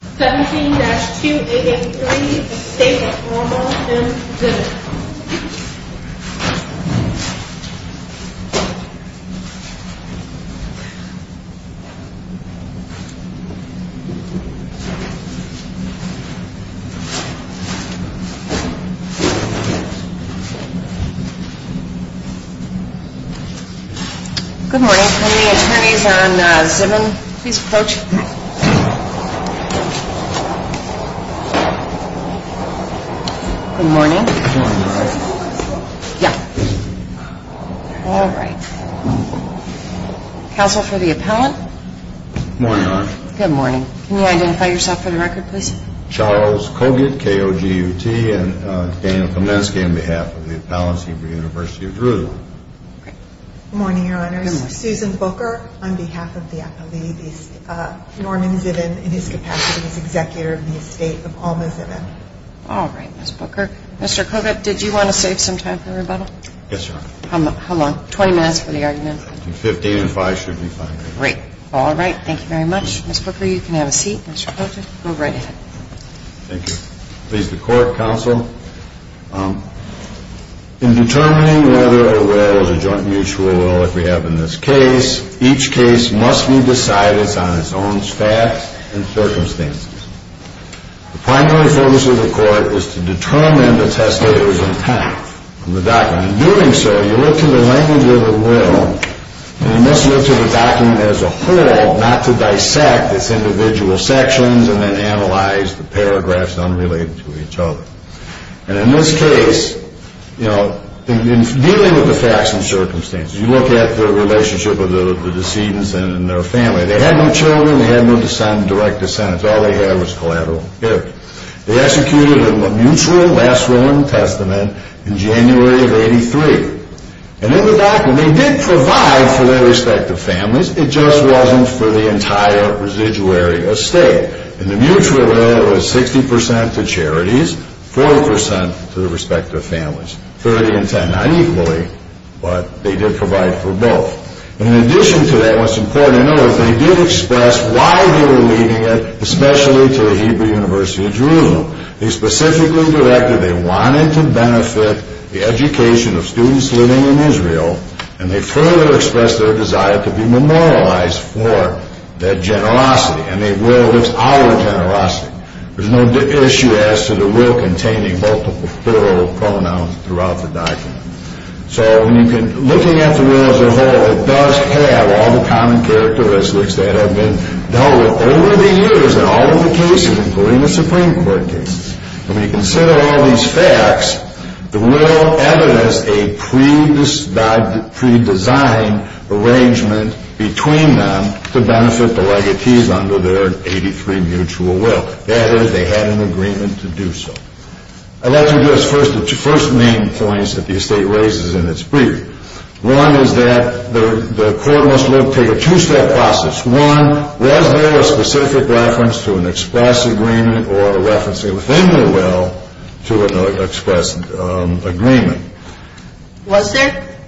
17-2883, the state of Oromo and Zimmon. Good morning. Can the attorneys on Zimmon please approach? Good morning. Yeah. All right. Counsel for the appellant? Good morning. Can you identify yourself for the record, please? Charles Kogut, K-O-G-U-T, and Daniel Kamensky on behalf of the appellants here for the University of Jerusalem. Good morning, Your Honors. Susan Booker on behalf of the appellee, Norman Zimmon, in his capacity as executor of the estate of Ahma Zimmon. All right, Ms. Booker. Mr. Kogut, did you want to save some time for the rebuttal? Yes, Your Honor. How long? 20 minutes for the argument? 15 and 5 should be fine. Great. All right. Thank you very much. Ms. Booker, you can have a seat. Mr. Kogut, go right ahead. Thank you. Please, the court, counsel. In determining whether a will is a joint mutual will, as we have in this case, each case must be decided on its own facts and circumstances. The primary focus of the court is to determine the testator's impact on the document. In doing so, you look to the language of the will, and you must look to the document as a whole, not to dissect its individual sections and then analyze the paragraphs unrelated to each other. And in this case, you know, in dealing with the facts and circumstances, you look at the relationship of the decedents and their family. They had no children. They had no direct descendants. All they had was collateral damage. They executed a mutual last will and testament in January of 83. And in the document, they did provide for their respective families. It just wasn't for the entire residuary estate. In the mutual will, it was 60 percent to charities, 40 percent to their respective families. 30 and 10, not equally, but they did provide for both. And in addition to that, what's important to know is they did express why they were leaving it, and they further expressed their desire to be memorialized for that generosity. And the will was our generosity. There's no issue as to the will containing multiple plural pronouns throughout the document. So when you can, looking at the will as a whole, it does have all the common characteristics that have been dealt with over the years in all of the cases, including the Supreme Court cases. And when you consider all these facts, the will evidenced a pre-designed arrangement between them to benefit the legatees under their 83 mutual will. That is, they had an agreement to do so. I'd like to address first the main points that the estate raises in its brief. One is that the court must look, take a two-step process. One, was there a specific reference to an express agreement or a reference within the will to an express agreement? Was there?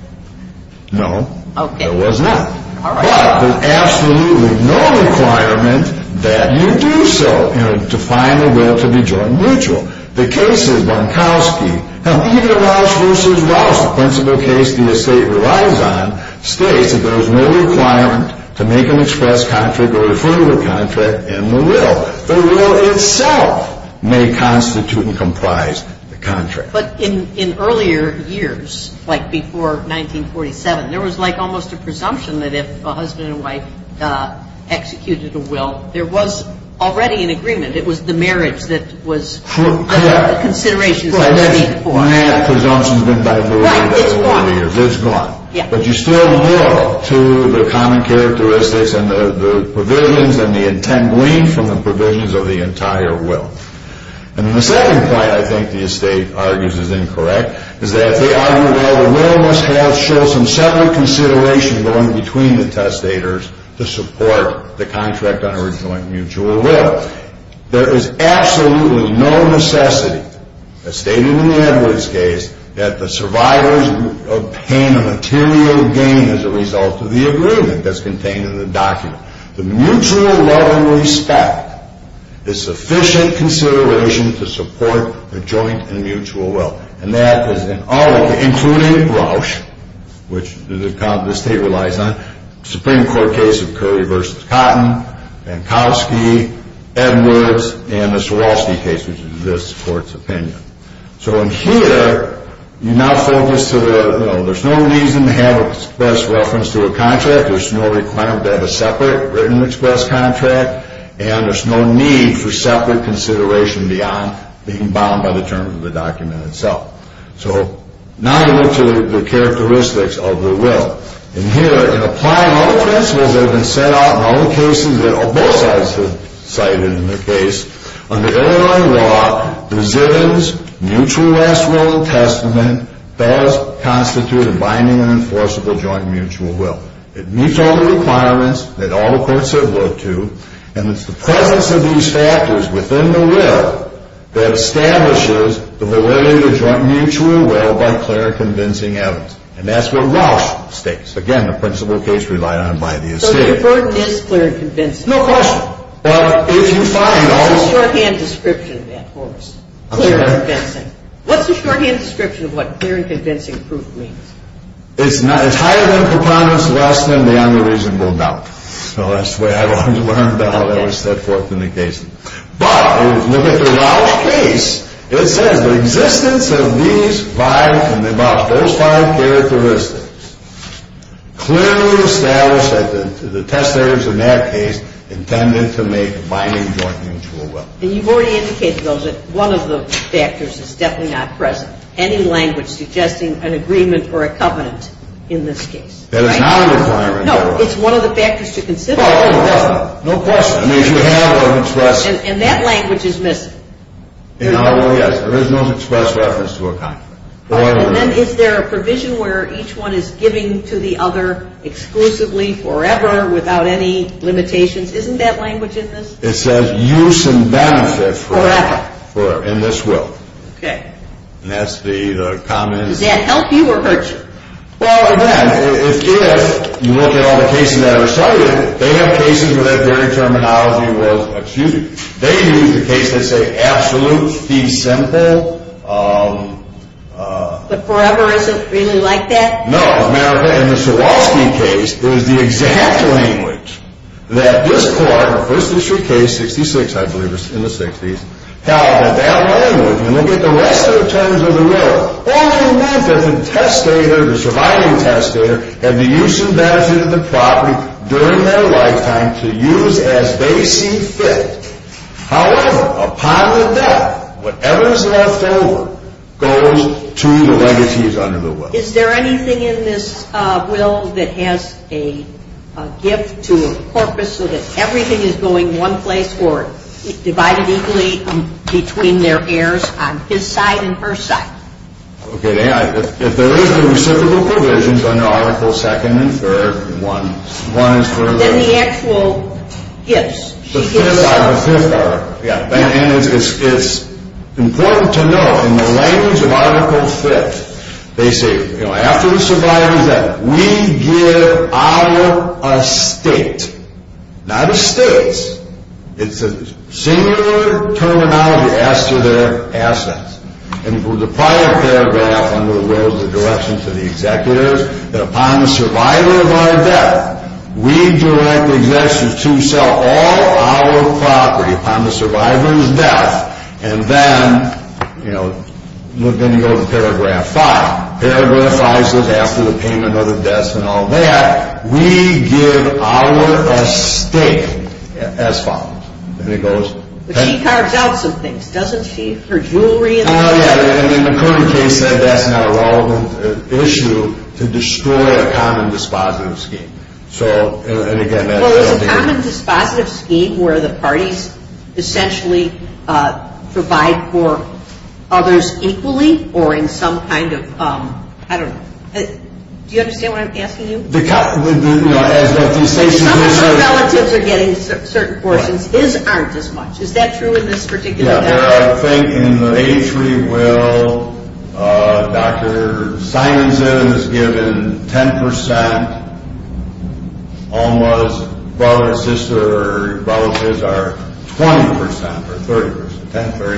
No. Okay. There was not. All right. But there's absolutely no requirement that you do so, you know, to find a will to be joint mutual. The case is Bonkowski. Now, even Rausch v. Rausch, the principal case the estate relies on, states that there is no requirement to make an express contract or a deferral contract in the will. The will itself may constitute and comprise the contract. But in earlier years, like before 1947, there was like almost a presumption that if a husband and wife executed a will, there was already an agreement. It was the marriage that was under the considerations that were made for it. Well, that presumption has been diverted over the years. Right, it's gone. It's gone. But you still move to the common characteristics and the provisions and the intent gleaned from the provisions of the entire will. And the second point I think the estate argues is incorrect is that they argue, well, the will must have shown some separate consideration going between the testators to support the contract under a joint mutual will. There is absolutely no necessity, as stated in the Edwards case, that the survivors obtain a material gain as a result of the agreement that's contained in the document. The mutual love and respect is sufficient consideration to support a joint and mutual will. And that is in all, including Rausch, which the estate relies on, the Supreme Court case of Curry v. Cotton, Mankowski, Edwards, and the Swarovski case, which is this Court's opinion. So in here, you now focus to the, you know, there's no reason to have an express reference to a contract. There's no requirement to have a separate written express contract. And there's no need for separate consideration beyond being bound by the terms of the document itself. So now we move to the characteristics of the will. In here, in applying all the principles that have been set out in all the cases that both sides have cited in the case, under Illinois law, resilience, mutual last will and testament, does constitute a binding and enforceable joint mutual will. It meets all the requirements that all the courts have looked to. And it's the presence of these factors within the will that establishes the validity of joint mutual will by clear and convincing evidence. And that's what Rausch states. Again, the principle case relied on by the estate. So the report is clear and convincing. No question. Well, if you find all... What's the shorthand description of that, Horace? Clear and convincing. What's the shorthand description of what clear and convincing proof means? It's not. It's higher than preponderance, less than, beyond the reasonable doubt. So that's the way I've always learned. I'll never step forth in a case. But if you look at the Rausch case, it says the existence of these five, and about those five characteristics, clearly establish that the testators in that case intended to make a binding joint mutual will. And you've already indicated, though, that one of the factors is definitely not present. Any language suggesting an agreement or a covenant in this case. That is not a requirement. No, it's one of the factors to consider. No question. I mean, if you have an express... And that language is missing. Yes, there is no express reference to a covenant. And then is there a provision where each one is giving to the other exclusively forever without any limitations? Isn't that language in this? It says use and benefit forever. Forever. In this will. Okay. And that's the common... Does that help you or hurt you? Well, again, if you look at all the cases that are cited, they have cases where that very terminology was exuded. They use the case that say absolute fee simple. But forever isn't really like that? No, America, in the Swarovski case, it was the exact language that this court, the first district case, 66, I believe it was in the 60s, held that that language, and look at the rest of the terms of the will, only meant that the testator, the surviving testator, had the use and benefit of the property during their lifetime to use as they see fit. However, upon their death, whatever is left over goes to the legacies under the will. Is there anything in this will that has a gift to a corpus so that everything is going one place or divided equally between their heirs on his side and her side? Okay, if there is the reciprocal provisions under articles 2nd and 3rd, and 1 is for the... Then the actual gifts. The 5th article. The 5th article, yeah, and it's important to know in the language of article 5th, they say, you know, after the survivor's death, we give our estate, not estates. It's a singular terminology as to their assets. And from the prior paragraph under the will is a direction to the executors that upon the survivor of our death, we direct the executors to sell all our property upon the survivor's death, and then, you know, then you go to paragraph 5. Paragraph 5 says after the payment of the death and all that, we give our estate as follows. And it goes... But she carves out some things, doesn't she? Her jewelry and... In the current case, that's not a relevant issue to destroy a common dispositive scheme. So, and again... Well, it's a common dispositive scheme where the parties essentially provide for others equally or in some kind of... I don't know. Do you understand what I'm asking you? Some of her relatives are getting certain portions. His aren't as much. Is that true in this particular case? Yeah. I think in the H.R.E. will, Dr. Simonson is given 10%. Alma's brother, sister, or brother's kids are 20% or 30%, 10%,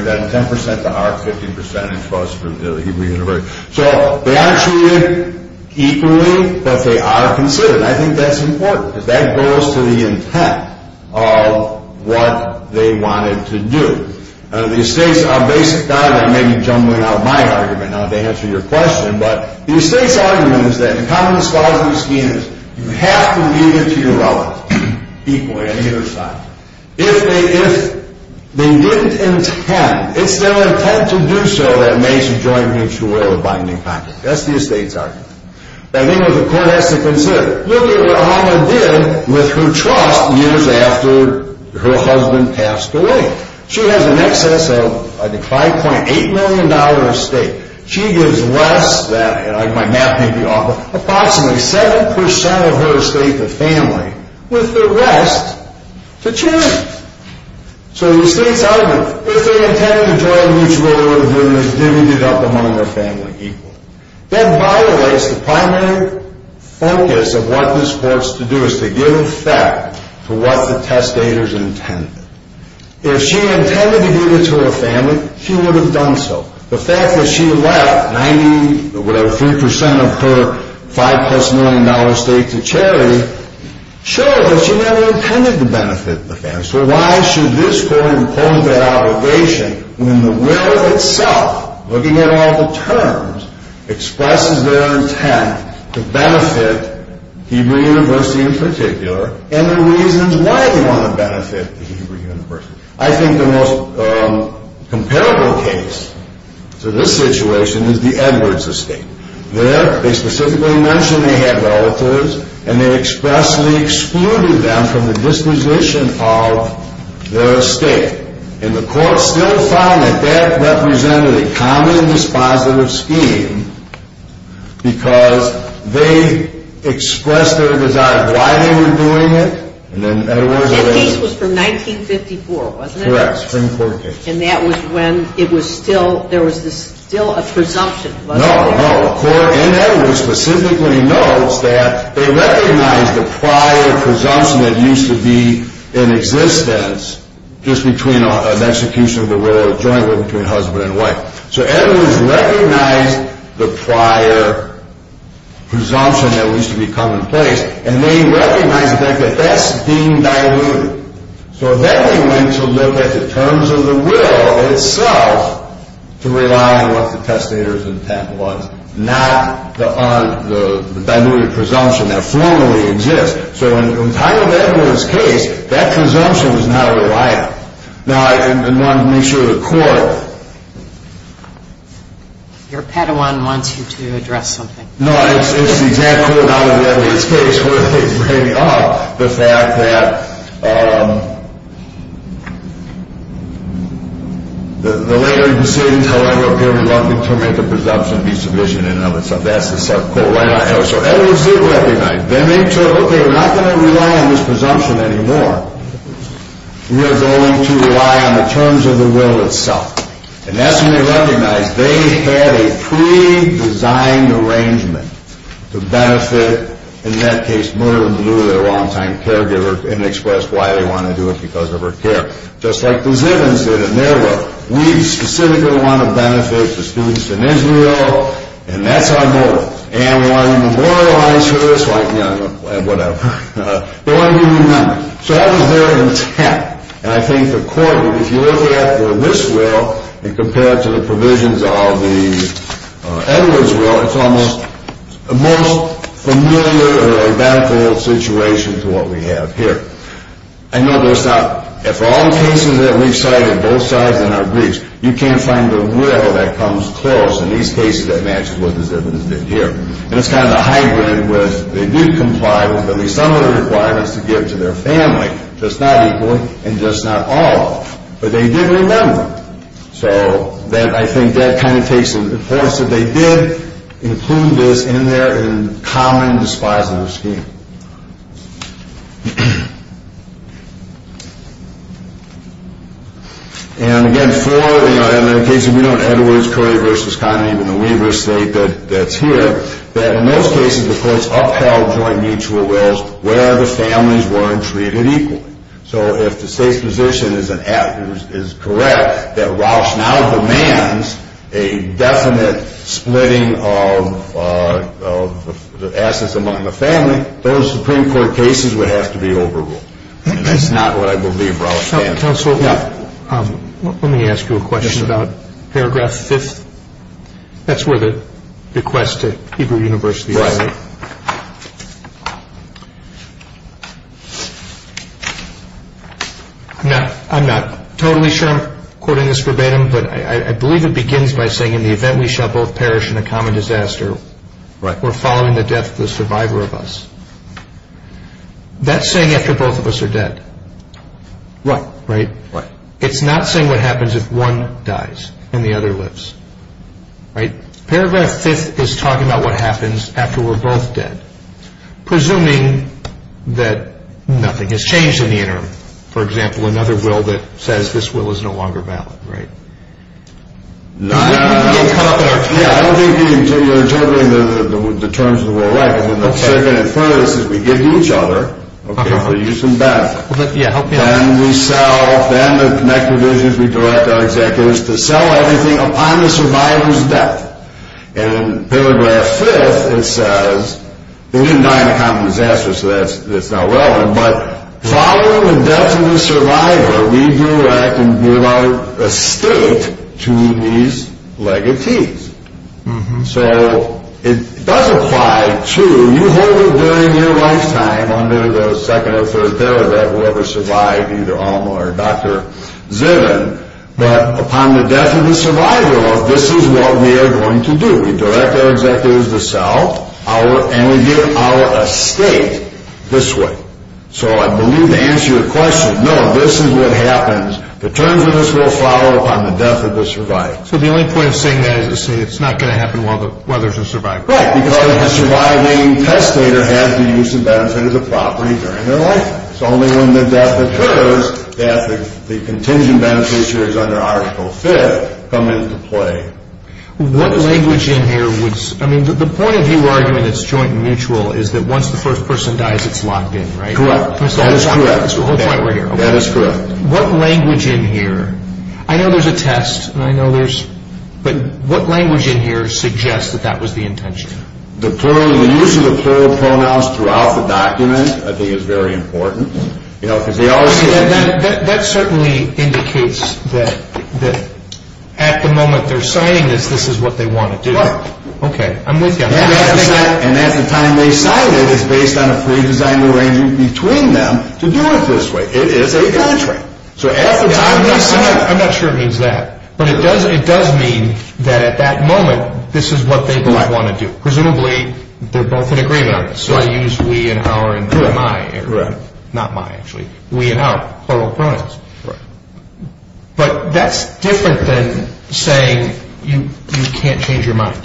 then 10% to our 50% plus for the Hebrew University. So they aren't treated equally, but they are considered. I think that's important. Because that goes to the intent of what they wanted to do. The estate's basic... I'm maybe jumbling out my argument now to answer your question, but the estate's argument is that in common dispositive schemes, you have to leave it to your relatives equally on either side. If they didn't intend... It's their intent to do so that makes a joint mutual will of binding contract. That's the estate's argument. I think what the court has to consider, look at what Alma did with her trust years after her husband passed away. She has an excess of $5.8 million estate. She gives less than... My math may be off, but approximately 7% of her estate to family, with the rest to charity. So the estate's argument, if they intended to join a mutual will, then there's divided up among their family equally. That violates the primary focus of what this court's to do, is to give effect to what the testator's intended. If she intended to give it to her family, she would have done so. The fact that she left 90, whatever, 3% of her $5 million estate to charity shows that she never intended to benefit the family. So why should this court impose that obligation when the will itself, looking at all the terms, expresses their intent to benefit Hebrew University in particular, and the reasons why they want to benefit the Hebrew University. I think the most comparable case to this situation is the Edwards estate. There, they specifically mention they had relatives, and they expressly excluded them from the disposition of their estate. And the court still found that that represented a common dispositive scheme because they expressed their desire of why they were doing it. That case was from 1954, wasn't it? Correct, Supreme Court case. And that was when there was still a presumption. No, no. The court in Edwards specifically notes that they recognize the prior presumption that used to be in existence just between an execution of the will or a joint will between husband and wife. So Edwards recognized the prior presumption that used to be commonplace, and they recognized the fact that that's being diluted. So then they went to look at the terms of the will itself to rely on what the testator's intent was, not the diluted presumption that formally exists. So in Tyler Edwards' case, that presumption is not reliable. Now, I wanted to make sure the court… Your Padawan wants you to address something. No, it's the exact quote out of Edwards' case where they bring up the fact that the later proceedings, however, appear reluctant to make a presumption vis-à-vis and other stuff. That's the subquote. So Edwards did recognize. They made sure, okay, we're not going to rely on this presumption anymore. We are going to rely on the terms of the will itself. And that's when they recognized they had a pre-designed arrangement to benefit, in that case, Myrtle and Lou, their long-time caregiver, and expressed why they wanted to do it because of her care. Just like the Zivins did in their will. We specifically want to benefit the students in Israel, and that's our motive. And we want to memorialize her. It's like, you know, whatever. We want to give you money. So that was there intact. And I think the court, if you look at this will, and compare it to the provisions of the Edwards will, it's almost the most familiar or identical situation to what we have here. I know there's not – for all the cases that we've cited, both sides in our briefs, you can't find a will that comes close. In these cases, that matches what the Zivins did here. And it's kind of a hybrid with they did comply with at least some of the requirements to give to their family, just not equally, and just not all of them. But they did remember. So I think that kind of takes it to the fore. So they did include this in their common dispositive scheme. And again, in the case of Edwards, Curry v. Condon, even the waiver state that's here, that in most cases the courts upheld joint mutual wills where the families weren't treated equally. So if the state's position is correct that Rauch now demands a definite splitting of assets among the family, those Supreme Court cases would have to be overruled. And that's not what I believe Rauch did. Counsel, let me ask you a question about paragraph 5th. That's where the request to Hebrew University is, right? Right. I'm not totally sure I'm quoting this verbatim, but I believe it begins by saying, in the event we shall both perish in a common disaster, we're following the death of the survivor of us. That's saying after both of us are dead. Right. It's not saying what happens if one dies and the other lives. Paragraph 5th is talking about what happens after we're both dead, presuming that nothing has changed in the interim. For example, another will that says this will is no longer valid. Right. I don't think you're interpreting the terms of the war right, because in the second and third it says we give to each other, okay, for use and benefit. Then we sell, then the next provision is we direct our executives to sell everything upon the survivor's death. And in paragraph 5th it says, they didn't die in a common disaster so that's not relevant, but following the death of the survivor, we direct and give our estate to these legatees. So it does apply to, you hold it during your lifetime under the second or third derivative, whoever survived, either Alma or Dr. Ziven, but upon the death of the survivor of this is what we are going to do. We direct our executives to sell, and we give our estate this way. So I believe to answer your question, no, this is what happens. The terms of this will follow upon the death of the survivor. So the only point of saying that is to say it's not going to happen while there's a survivor. Right, because the surviving testator has the use and benefit of the property during their life. It's only when the death occurs that the contingent benefit here is under article 5th come into play. What language in here would, I mean the point of you arguing it's joint and mutual is that once the first person dies it's locked in, right? Correct. That is correct. That is correct. What language in here, I know there's a test, but what language in here suggests that that was the intention? The use of the plural pronouns throughout the document I think is very important. That certainly indicates that at the moment they're signing this, this is what they want to do. Right. Okay, I'm with you. And at the time they sign it, it's based on a pre-designed arrangement between them to do it this way. It is a contract. I'm not sure it means that, but it does mean that at that moment this is what they both want to do. Presumably they're both in agreement on this. So I use we and our and they're my. Right. Not my actually. We and our, plural pronouns. Right. But that's different than saying you can't change your mind.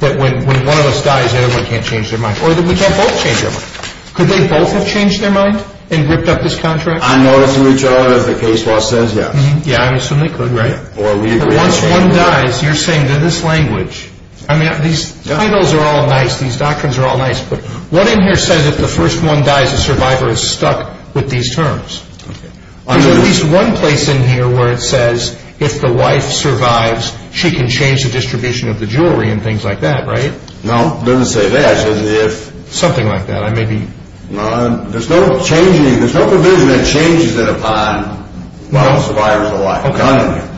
That when one of us dies, everyone can't change their mind. Or that we can't both change our mind. Could they both have changed their mind and ripped up this contract? On notice of each other, as the case law says, yes. Yeah, I assume they could, right? Once one dies, you're saying that this language, I mean these titles are all nice, these doctrines are all nice, but what in here says if the first one dies, the survivor is stuck with these terms? There's at least one place in here where it says if the wife survives, she can change the distribution of the jewelry and things like that, right? No, it doesn't say that. It says if. Something like that. I may be. There's no provision that changes it upon the survivor's life.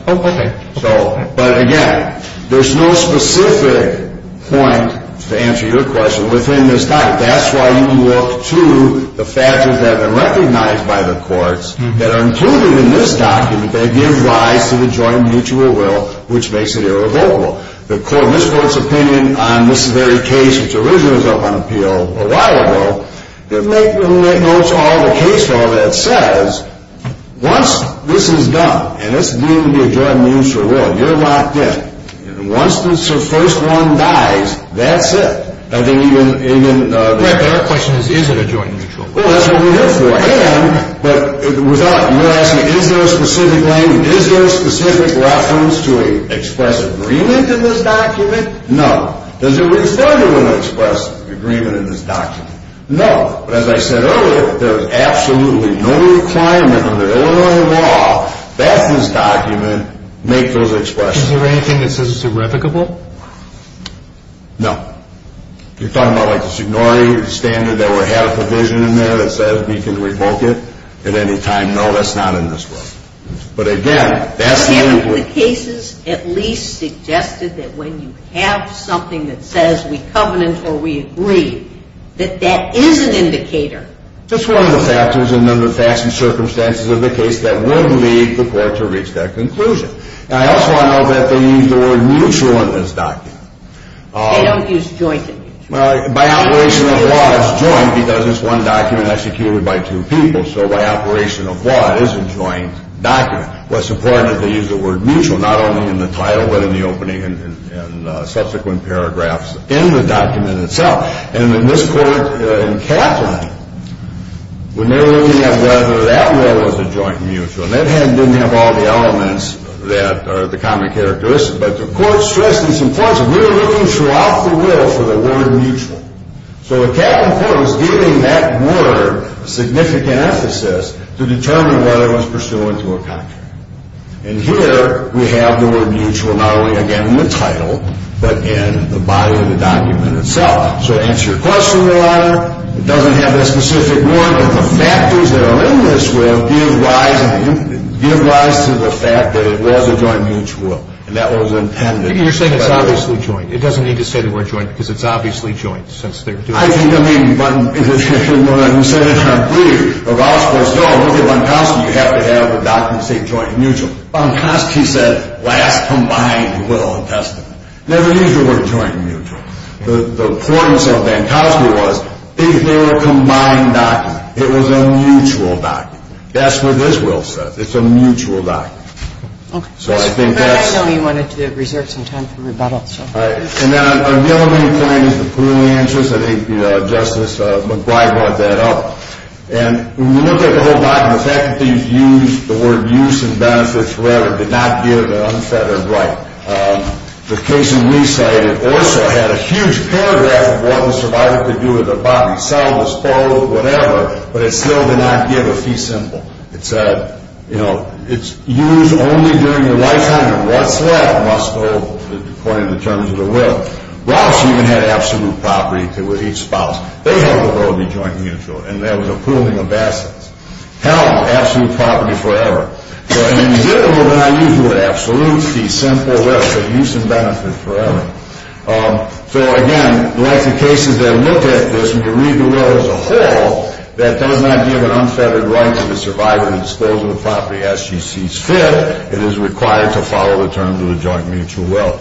Okay. But again, there's no specific point, to answer your question, within this document. That's why you can look to the factors that have been recognized by the courts that are included in this document that give rise to the joint mutual will, which makes it irrevocable. The court misquotes opinion on this very case, which originally was up on appeal a while ago, that make notes on the case law that says once this is done, and this is deemed to be a joint mutual will, you're locked in. Once the first one dies, that's it. I think even... Right, but our question is, is it a joint mutual will? Well, that's what we're here for. And, but without, you're asking, is there a specific language, is there a specific reference to express agreement in this document? No. Does it refer to an express agreement in this document? No. But as I said earlier, there is absolutely no requirement under Illinois law that this document make those expressions. Is there anything that says it's irrevocable? No. You're talking about like the Signori standard that would have a provision in there that says we can revoke it at any time? No, that's not in this one. But, again, that's the... The cases at least suggested that when you have something that says we covenant or we agree, that that is an indicator. That's one of the factors, and under the facts and circumstances of the case, that would lead the court to reach that conclusion. And I also want to note that they use the word mutual in this document. They don't use joint mutual. Well, by operation of law, it's joint because it's one document executed by two people. So by operation of law, it is a joint document. Well, it's important that they use the word mutual not only in the title but in the opening and subsequent paragraphs in the document itself. And in this court in Kaplan, we're never looking at whether that rule was a joint mutual. That didn't have all the elements that are the common characteristics. But the court stressed in some places, we were looking throughout the rule for the word mutual. So Kaplan Court was giving that word a significant emphasis to determine whether it was pursuant to a contract. And here we have the word mutual not only again in the title but in the body of the document itself. So answer your question, Your Honor, it doesn't have that specific word, but the factors that are in this will give rise to the fact that it was a joint mutual. And that was intended... You're saying it's obviously joint. It doesn't need to say the word joint because it's obviously joint since they're doing... I think, I mean, but in the Senate, in our brief, the gospel is, no, look at Vankowski. You have to have the document say joint mutual. Vankowski said last combined will of destiny. Never use the word joint mutual. The importance of Vankowski was if they were a combined document, it was a mutual document. That's what this will says. It's a mutual document. Okay. So I think that's... Okay. And then on the other main findings, the pool answers, I think Justice McBride brought that up. And when you look at the whole document, the faculty used the word use and benefits forever, did not give an unfettered right. The case in Lee's side also had a huge paragraph of what the survivor could do with their body, sell, dispose, whatever, but it still did not give a fee symbol. It said, you know, it's used only during your lifetime and what's left must go according to the terms of the will. Ross even had absolute property to each spouse. They had the will to be joint mutual, and that was a pooling of assets. Hell, absolute property forever. So, I mean, you did it with an I.U. for an absolute fee symbol with a use and benefit forever. So, again, like the cases that look at this, when you read the will as a whole, that does not give an unfettered right to the survivor to dispose of the property as she sees fit. It is required to follow the terms of the joint mutual will.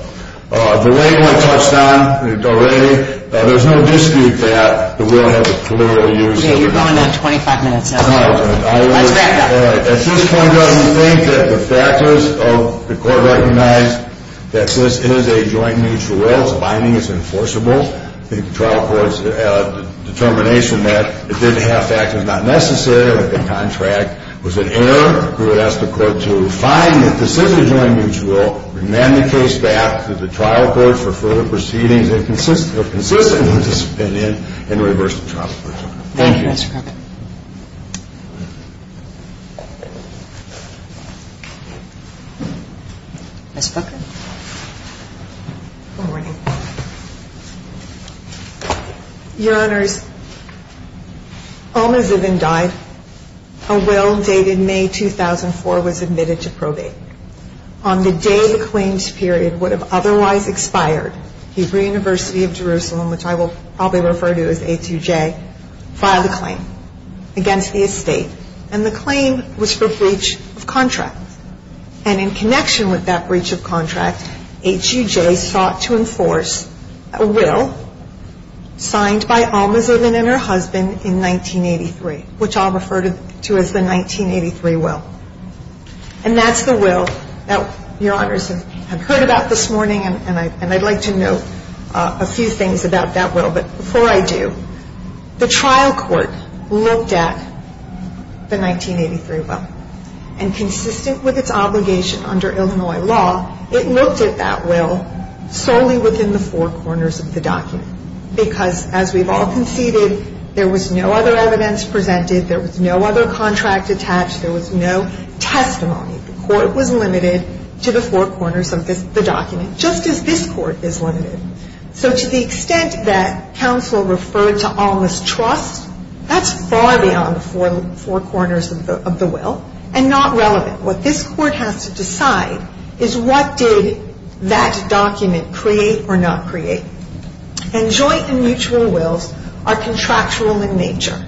The way it was touched on already, there's no dispute that the will has a plural use. Yeah, you're going down 25 minutes now. All right. Let's wrap it up. All right. At this point, I would think that the factors of the court recognized that this is a joint mutual will. It's binding. It's enforceable. I think the trial court's determination that it didn't have factors not necessary with the contract was an error. We would ask the court to find that this is a joint mutual, remand the case back to the trial court for further proceedings if consistent with the subpoena, and reverse the trial. Thank you. Thank you, Mr. Cook. Ms. Booker? Good morning. Your Honors, Alma Zivin died. A will dated May 2004 was admitted to probate. On the day the claims period would have otherwise expired, Hebrew University of Jerusalem, which I will probably refer to as HUJ, filed a claim against the estate, and the claim was for breach of contract. And in connection with that breach of contract, HUJ sought to enforce a will signed by Alma Zivin and her husband in 1983, which I'll refer to as the 1983 will. And that's the will that Your Honors have heard about this morning, and I'd like to know a few things about that will. But before I do, the trial court looked at the 1983 will, and consistent with its obligation under Illinois law, it looked at that will solely within the four corners of the document. Because as we've all conceded, there was no other evidence presented, there was no other contract attached, there was no testimony. The court was limited to the four corners of the document, just as this court is limited. So to the extent that counsel referred to Alma's trust, that's far beyond the four corners of the will and not relevant. What this court has to decide is what did that document create or not create. And joint and mutual wills are contractual in nature.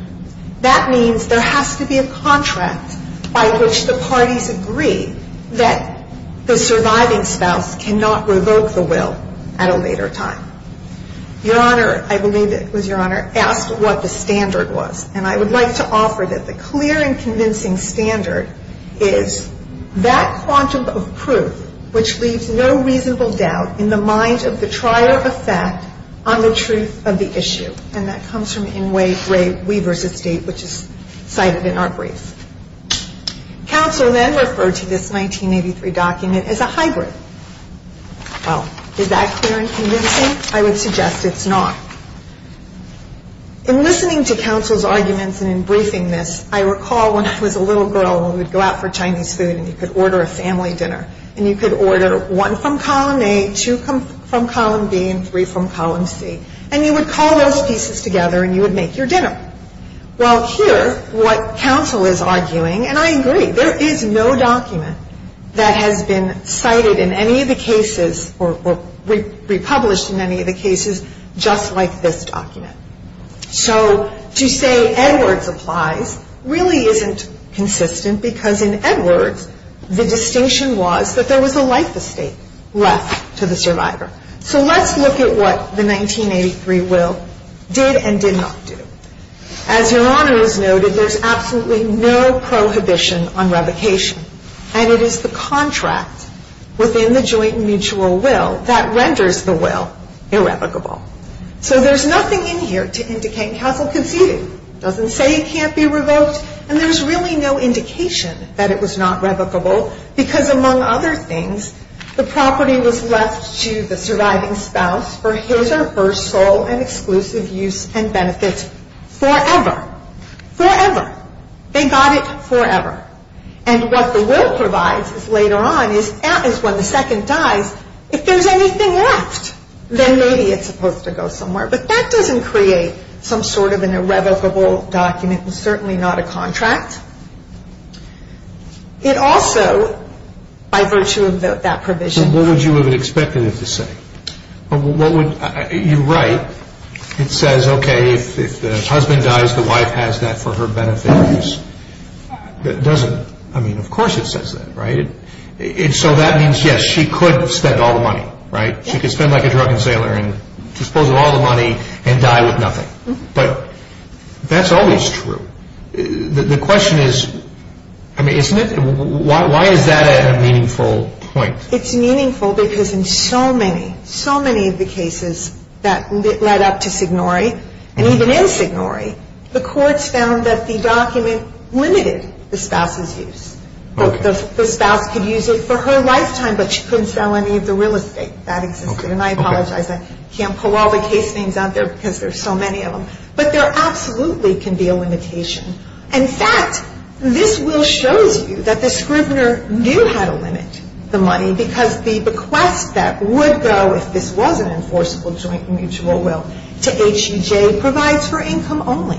That means there has to be a contract by which the parties agree that the surviving spouse cannot revoke the will at a later time. Your Honor, I believe it was Your Honor, asked what the standard was. And I would like to offer that the clear and convincing standard is that quantum of proof which leaves no reasonable doubt in the mind of the trier of fact on the truth of the issue. And that comes from N. Wade Ray Weaver's estate, which is cited in our brief. Counsel then referred to this 1983 document as a hybrid. Well, is that clear and convincing? I would suggest it's not. In listening to counsel's arguments and in briefing this, I recall when I was a little girl and we would go out for Chinese food and you could order a family dinner. And you could order one from column A, two from column B, and three from column C. And you would call those pieces together and you would make your dinner. Well, here what counsel is arguing, and I agree, or republished in any of the cases just like this document. So to say Edwards applies really isn't consistent because in Edwards the distinction was that there was a life estate left to the survivor. So let's look at what the 1983 will did and did not do. As Your Honor has noted, there's absolutely no prohibition on revocation. And it is the contract within the joint mutual will that renders the will irrevocable. So there's nothing in here to indicate counsel conceded. It doesn't say it can't be revoked. And there's really no indication that it was not revocable because among other things the property was left to the surviving spouse for his or her sole and exclusive use and benefit forever. Forever. They got it forever. And what the will provides is later on is when the second dies, if there's anything left, then maybe it's supposed to go somewhere. But that doesn't create some sort of an irrevocable document. It's certainly not a contract. It also, by virtue of that provision. So what would you have expected it to say? You write. It says, okay, if the husband dies, the wife has that for her benefit. It doesn't. I mean, of course it says that, right? So that means, yes, she could spend all the money, right? She could spend like a drunken sailor and dispose of all the money and die with nothing. But that's always true. The question is, I mean, isn't it? Why is that a meaningful point? It's meaningful because in so many, so many of the cases that led up to Signore and even in Signore, the courts found that the document limited the spouse's use. The spouse could use it for her lifetime, but she couldn't sell any of the real estate that existed. And I apologize. I can't pull all the case names out there because there's so many of them. But there absolutely can be a limitation. In fact, this will shows you that the scrivener knew how to limit the money because the bequest that would go, if this was an enforceable joint mutual will, to HEJ provides for income only.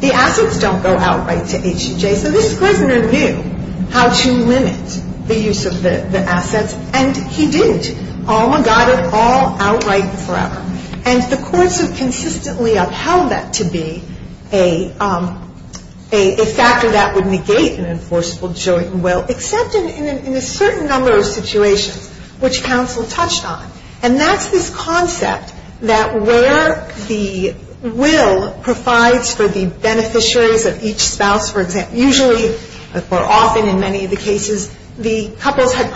The assets don't go outright to HEJ. So this scrivener knew how to limit the use of the assets, and he didn't. Alma got it all outright forever. And the courts have consistently upheld that to be a factor that would negate an enforceable joint will, except in a certain number of situations, which counsel touched on. And that's this concept that where the will provides for the beneficiaries of each spouse, usually or often in many of the cases, the couples had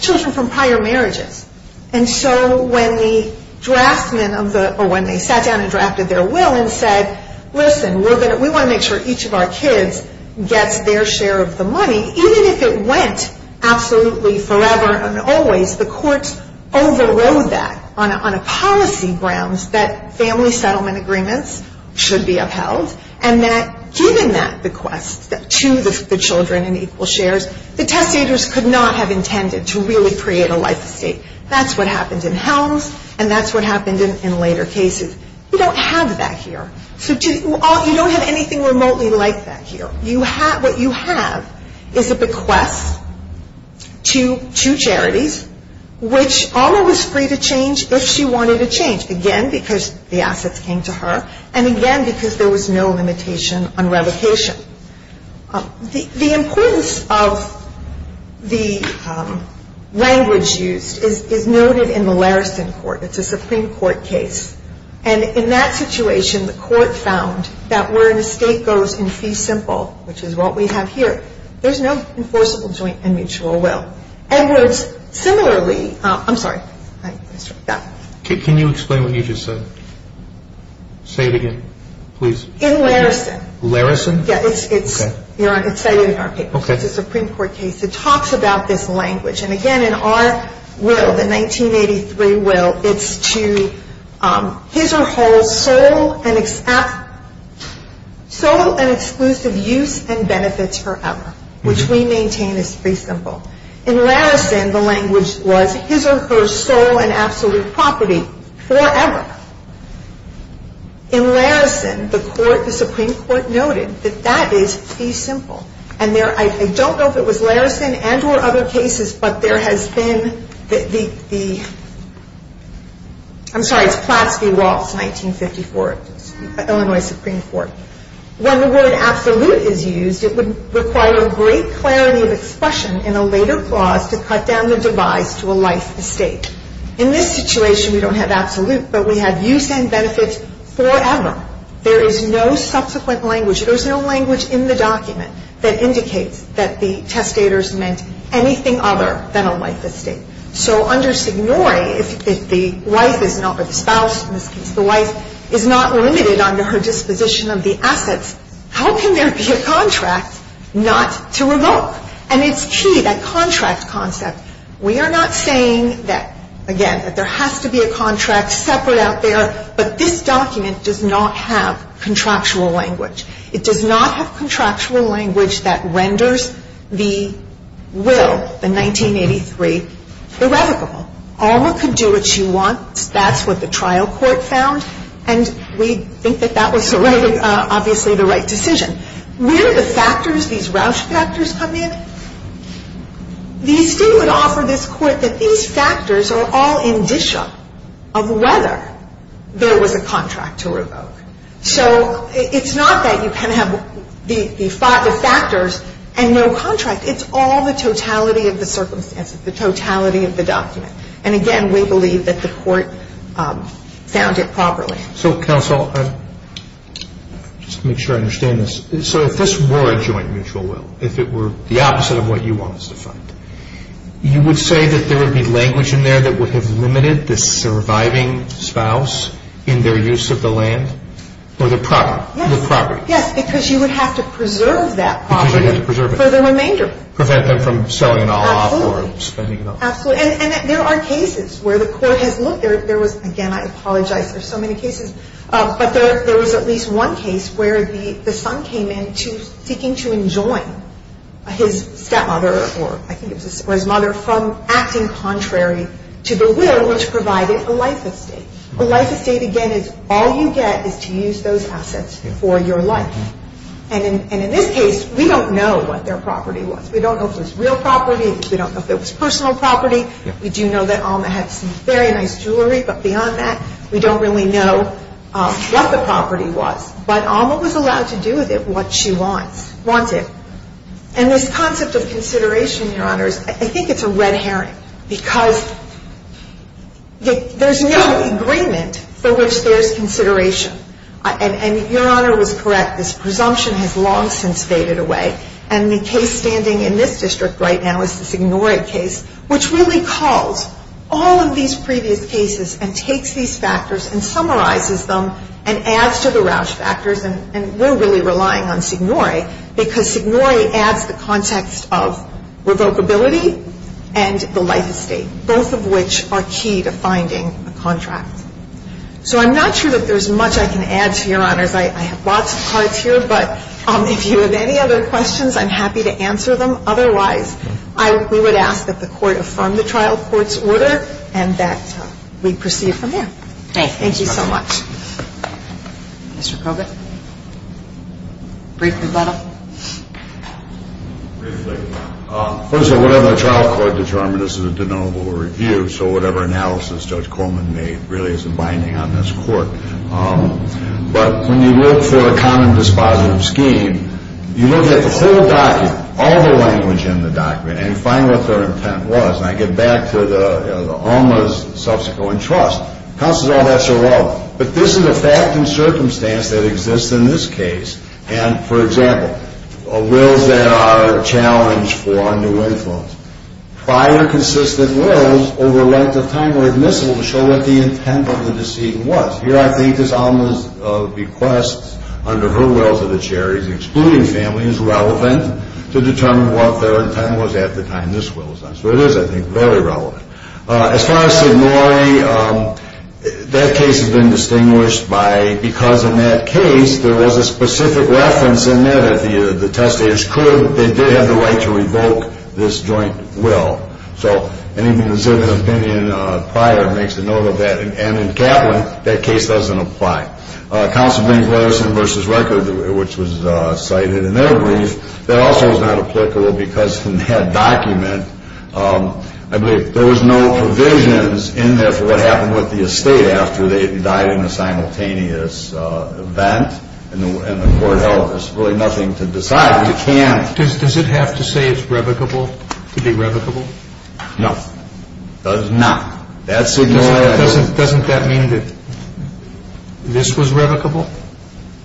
children from prior marriages. And so when the draftsman of the or when they sat down and drafted their will and said, listen, we want to make sure each of our kids gets their share of the money, even if it went absolutely forever and always, the courts overrode that on a policy grounds that family settlement agreements should be upheld, and that given that bequest to the children in equal shares, the testators could not have intended to really create a life estate. That's what happened in Helms, and that's what happened in later cases. You don't have that here. You don't have anything remotely like that here. What you have is a bequest to two charities, which Alma was free to change if she wanted to change, again, because the assets came to her, and again, because there was no limitation on revocation. The importance of the language used is noted in the Larrison court. It's a Supreme Court case. And in that situation, the court found that where an estate goes in fee simple, which is what we have here, there's no enforceable joint and mutual will. Edwards similarly – I'm sorry. Can you explain what you just said? Say it again, please. In Larrison. Larrison? Yes. It's cited in our case. It's a Supreme Court case. It talks about this language. And again, in our will, the 1983 will, it's to his or her sole and exclusive use and benefits forever, which we maintain is fee simple. In Larrison, the language was his or her sole and absolute property forever. In Larrison, the Supreme Court noted that that is fee simple. And I don't know if it was Larrison and or other cases, but there has been the – I'm sorry, it's Platts v. Waltz, 1954, Illinois Supreme Court. When the word absolute is used, it would require a great clarity of expression in a later clause to cut down the device to a life estate. In this situation, we don't have absolute, but we have use and benefits forever. There is no subsequent language. There's no language in the document that indicates that the testators meant anything other than a life estate. So under Signore, if the wife is not – or the spouse in this case – the wife is not limited under her disposition of the assets, how can there be a contract not to revoke? And it's key, that contract concept. We are not saying that, again, that there has to be a contract separate out there, but this document does not have contractual language. It does not have contractual language that renders the will, the 1983, irrevocable. Alma could do what she wants. That's what the trial court found. And we think that that was obviously the right decision. Where do the factors, these Roush factors come in? The State would offer this Court that these factors are all indicia of whether there was a contract to revoke. So it's not that you can have the factors and no contract. It's all the totality of the circumstances, the totality of the document. And, again, we believe that the Court found it properly. So, counsel, just to make sure I understand this, so if this were a joint mutual will, if it were the opposite of what you want us to find, you would say that there would be language in there that would have limited the surviving spouse in their use of the land or the property? Yes, because you would have to preserve that property for the remainder. Prevent them from selling it all off or spending it all. Absolutely. And there are cases where the Court has looked. Again, I apologize, there are so many cases. But there was at least one case where the son came in seeking to enjoin his stepmother or I think it was his mother from acting contrary to the will which provided a life estate. A life estate, again, is all you get is to use those assets for your life. And in this case, we don't know what their property was. We don't know if it was real property. We don't know if it was personal property. We do know that Alma had some very nice jewelry. But beyond that, we don't really know what the property was. But Alma was allowed to do with it what she wanted. And this concept of consideration, Your Honors, I think it's a red herring because there's no agreement for which there's consideration. And Your Honor was correct. This presumption has long since faded away. And the case standing in this district right now is the Signore case, which really calls all of these previous cases and takes these factors and summarizes them and adds to the Roush factors. And we're really relying on Signore because Signore adds the context of revocability and the life estate, both of which are key to finding a contract. So I'm not sure that there's much I can add to Your Honors. I have lots of cards here. But if you have any other questions, I'm happy to answer them. Otherwise, we would ask that the Court affirm the trial court's order and that we proceed from there. Thank you so much. Mr. Colvin, a brief rebuttal? Briefly. First of all, whatever the trial court determines, this is a denotable review. So whatever analysis Judge Coleman made really isn't binding on this court. But when you look for a common dispositive scheme, you look at the whole document, all the language in the document, and you find what their intent was. And I get back to Alma's subsequent trust. Counsel says, well, that's irrelevant. But this is a fact and circumstance that exists in this case. And, for example, wills that are challenged for new influence. Prior consistent wills over a length of time were admissible to show what the intent of the deceit was. Here I think it's Alma's bequest under her wills of the Cherries, excluding family, is relevant to determine what their intent was at the time this will was done. So it is, I think, very relevant. As far as Sidnori, that case has been distinguished by, because in that case there was a specific reference in there that the testators could, they did have the right to revoke this joint will. So anything that's in the opinion prior makes a note of that. And in Kaplan, that case doesn't apply. Counsel brings Weatherson v. Record, which was cited in their brief. That also is not applicable because in that document, I believe there was no provisions in there for what happened with the estate after they died in a simultaneous event. And the court held there's really nothing to decide. We can't. Does it have to say it's revocable to be revocable? No. Does not. Doesn't that mean that this was revocable?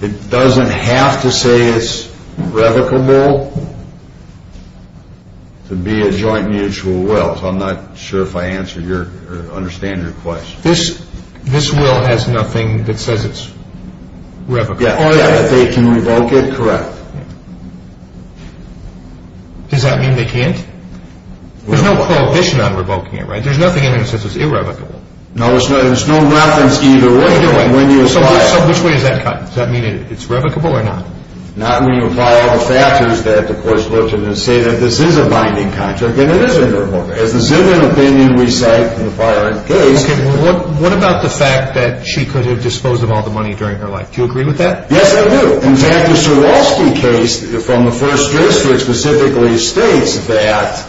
It doesn't have to say it's revocable to be a joint mutual will. So I'm not sure if I understand your question. This will has nothing that says it's revocable. If they can revoke it, correct. Does that mean they can't? There's no prohibition on revoking it, right? There's nothing in there that says it's irrevocable. No, there's no reference either way when you apply it. So which way is that cut? Does that mean it's revocable or not? Not when you apply all the factors that the court's looked at and say that this is a binding contract, and it is a binding contract. As the similar opinion we cite in the prior case. Okay. What about the fact that she could have disposed of all the money during her life? Do you agree with that? Yes, I do. In fact, the Swarovski case from the First District specifically states that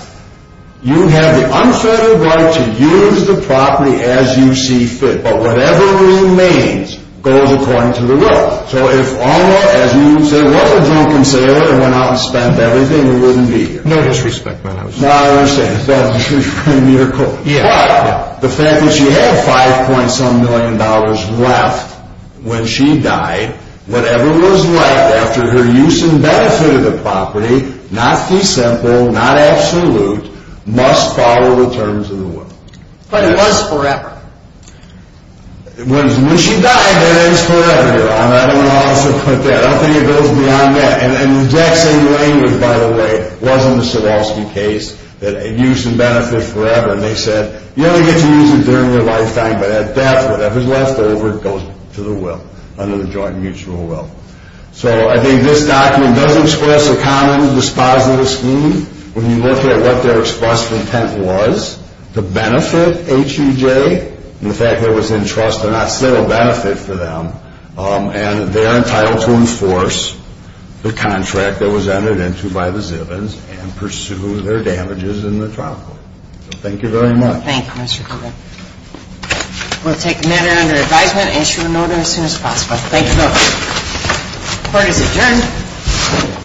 you have the unfettered right to use the property as you see fit, but whatever remains goes according to the rule. So if Alma, as you say, was a drunken sailor and went out and spent everything, it wouldn't be here. No disrespect, my House. No, I understand. It's not a disrespect in your court. Yeah. But the fact that she had $5.some million left when she died, whatever was left after her use and benefit of the property, not the simple, not absolute, must follow the terms of the will. But it was forever. When she died, that ends forever, Your Honor. I don't know how else to put that. I don't think it goes beyond that. And Jackson Lane, by the way, was in the Swarovski case, used and benefited forever. And they said, you only get to use it during your lifetime, but that's whatever's left over goes to the will, under the joint mutual will. So I think this document does express a common dispositive scheme when you look at what their express intent was to benefit HEJ and the fact that it was in trust, but not still a benefit for them. And they are entitled to enforce the contract that was entered into by the Zivins and pursue their damages in the trial court. So thank you very much. Thank you, Mr. Cooper. We'll take a minute under advisement, issue a notice as soon as possible. Thank you, Your Honor. Court is adjourned.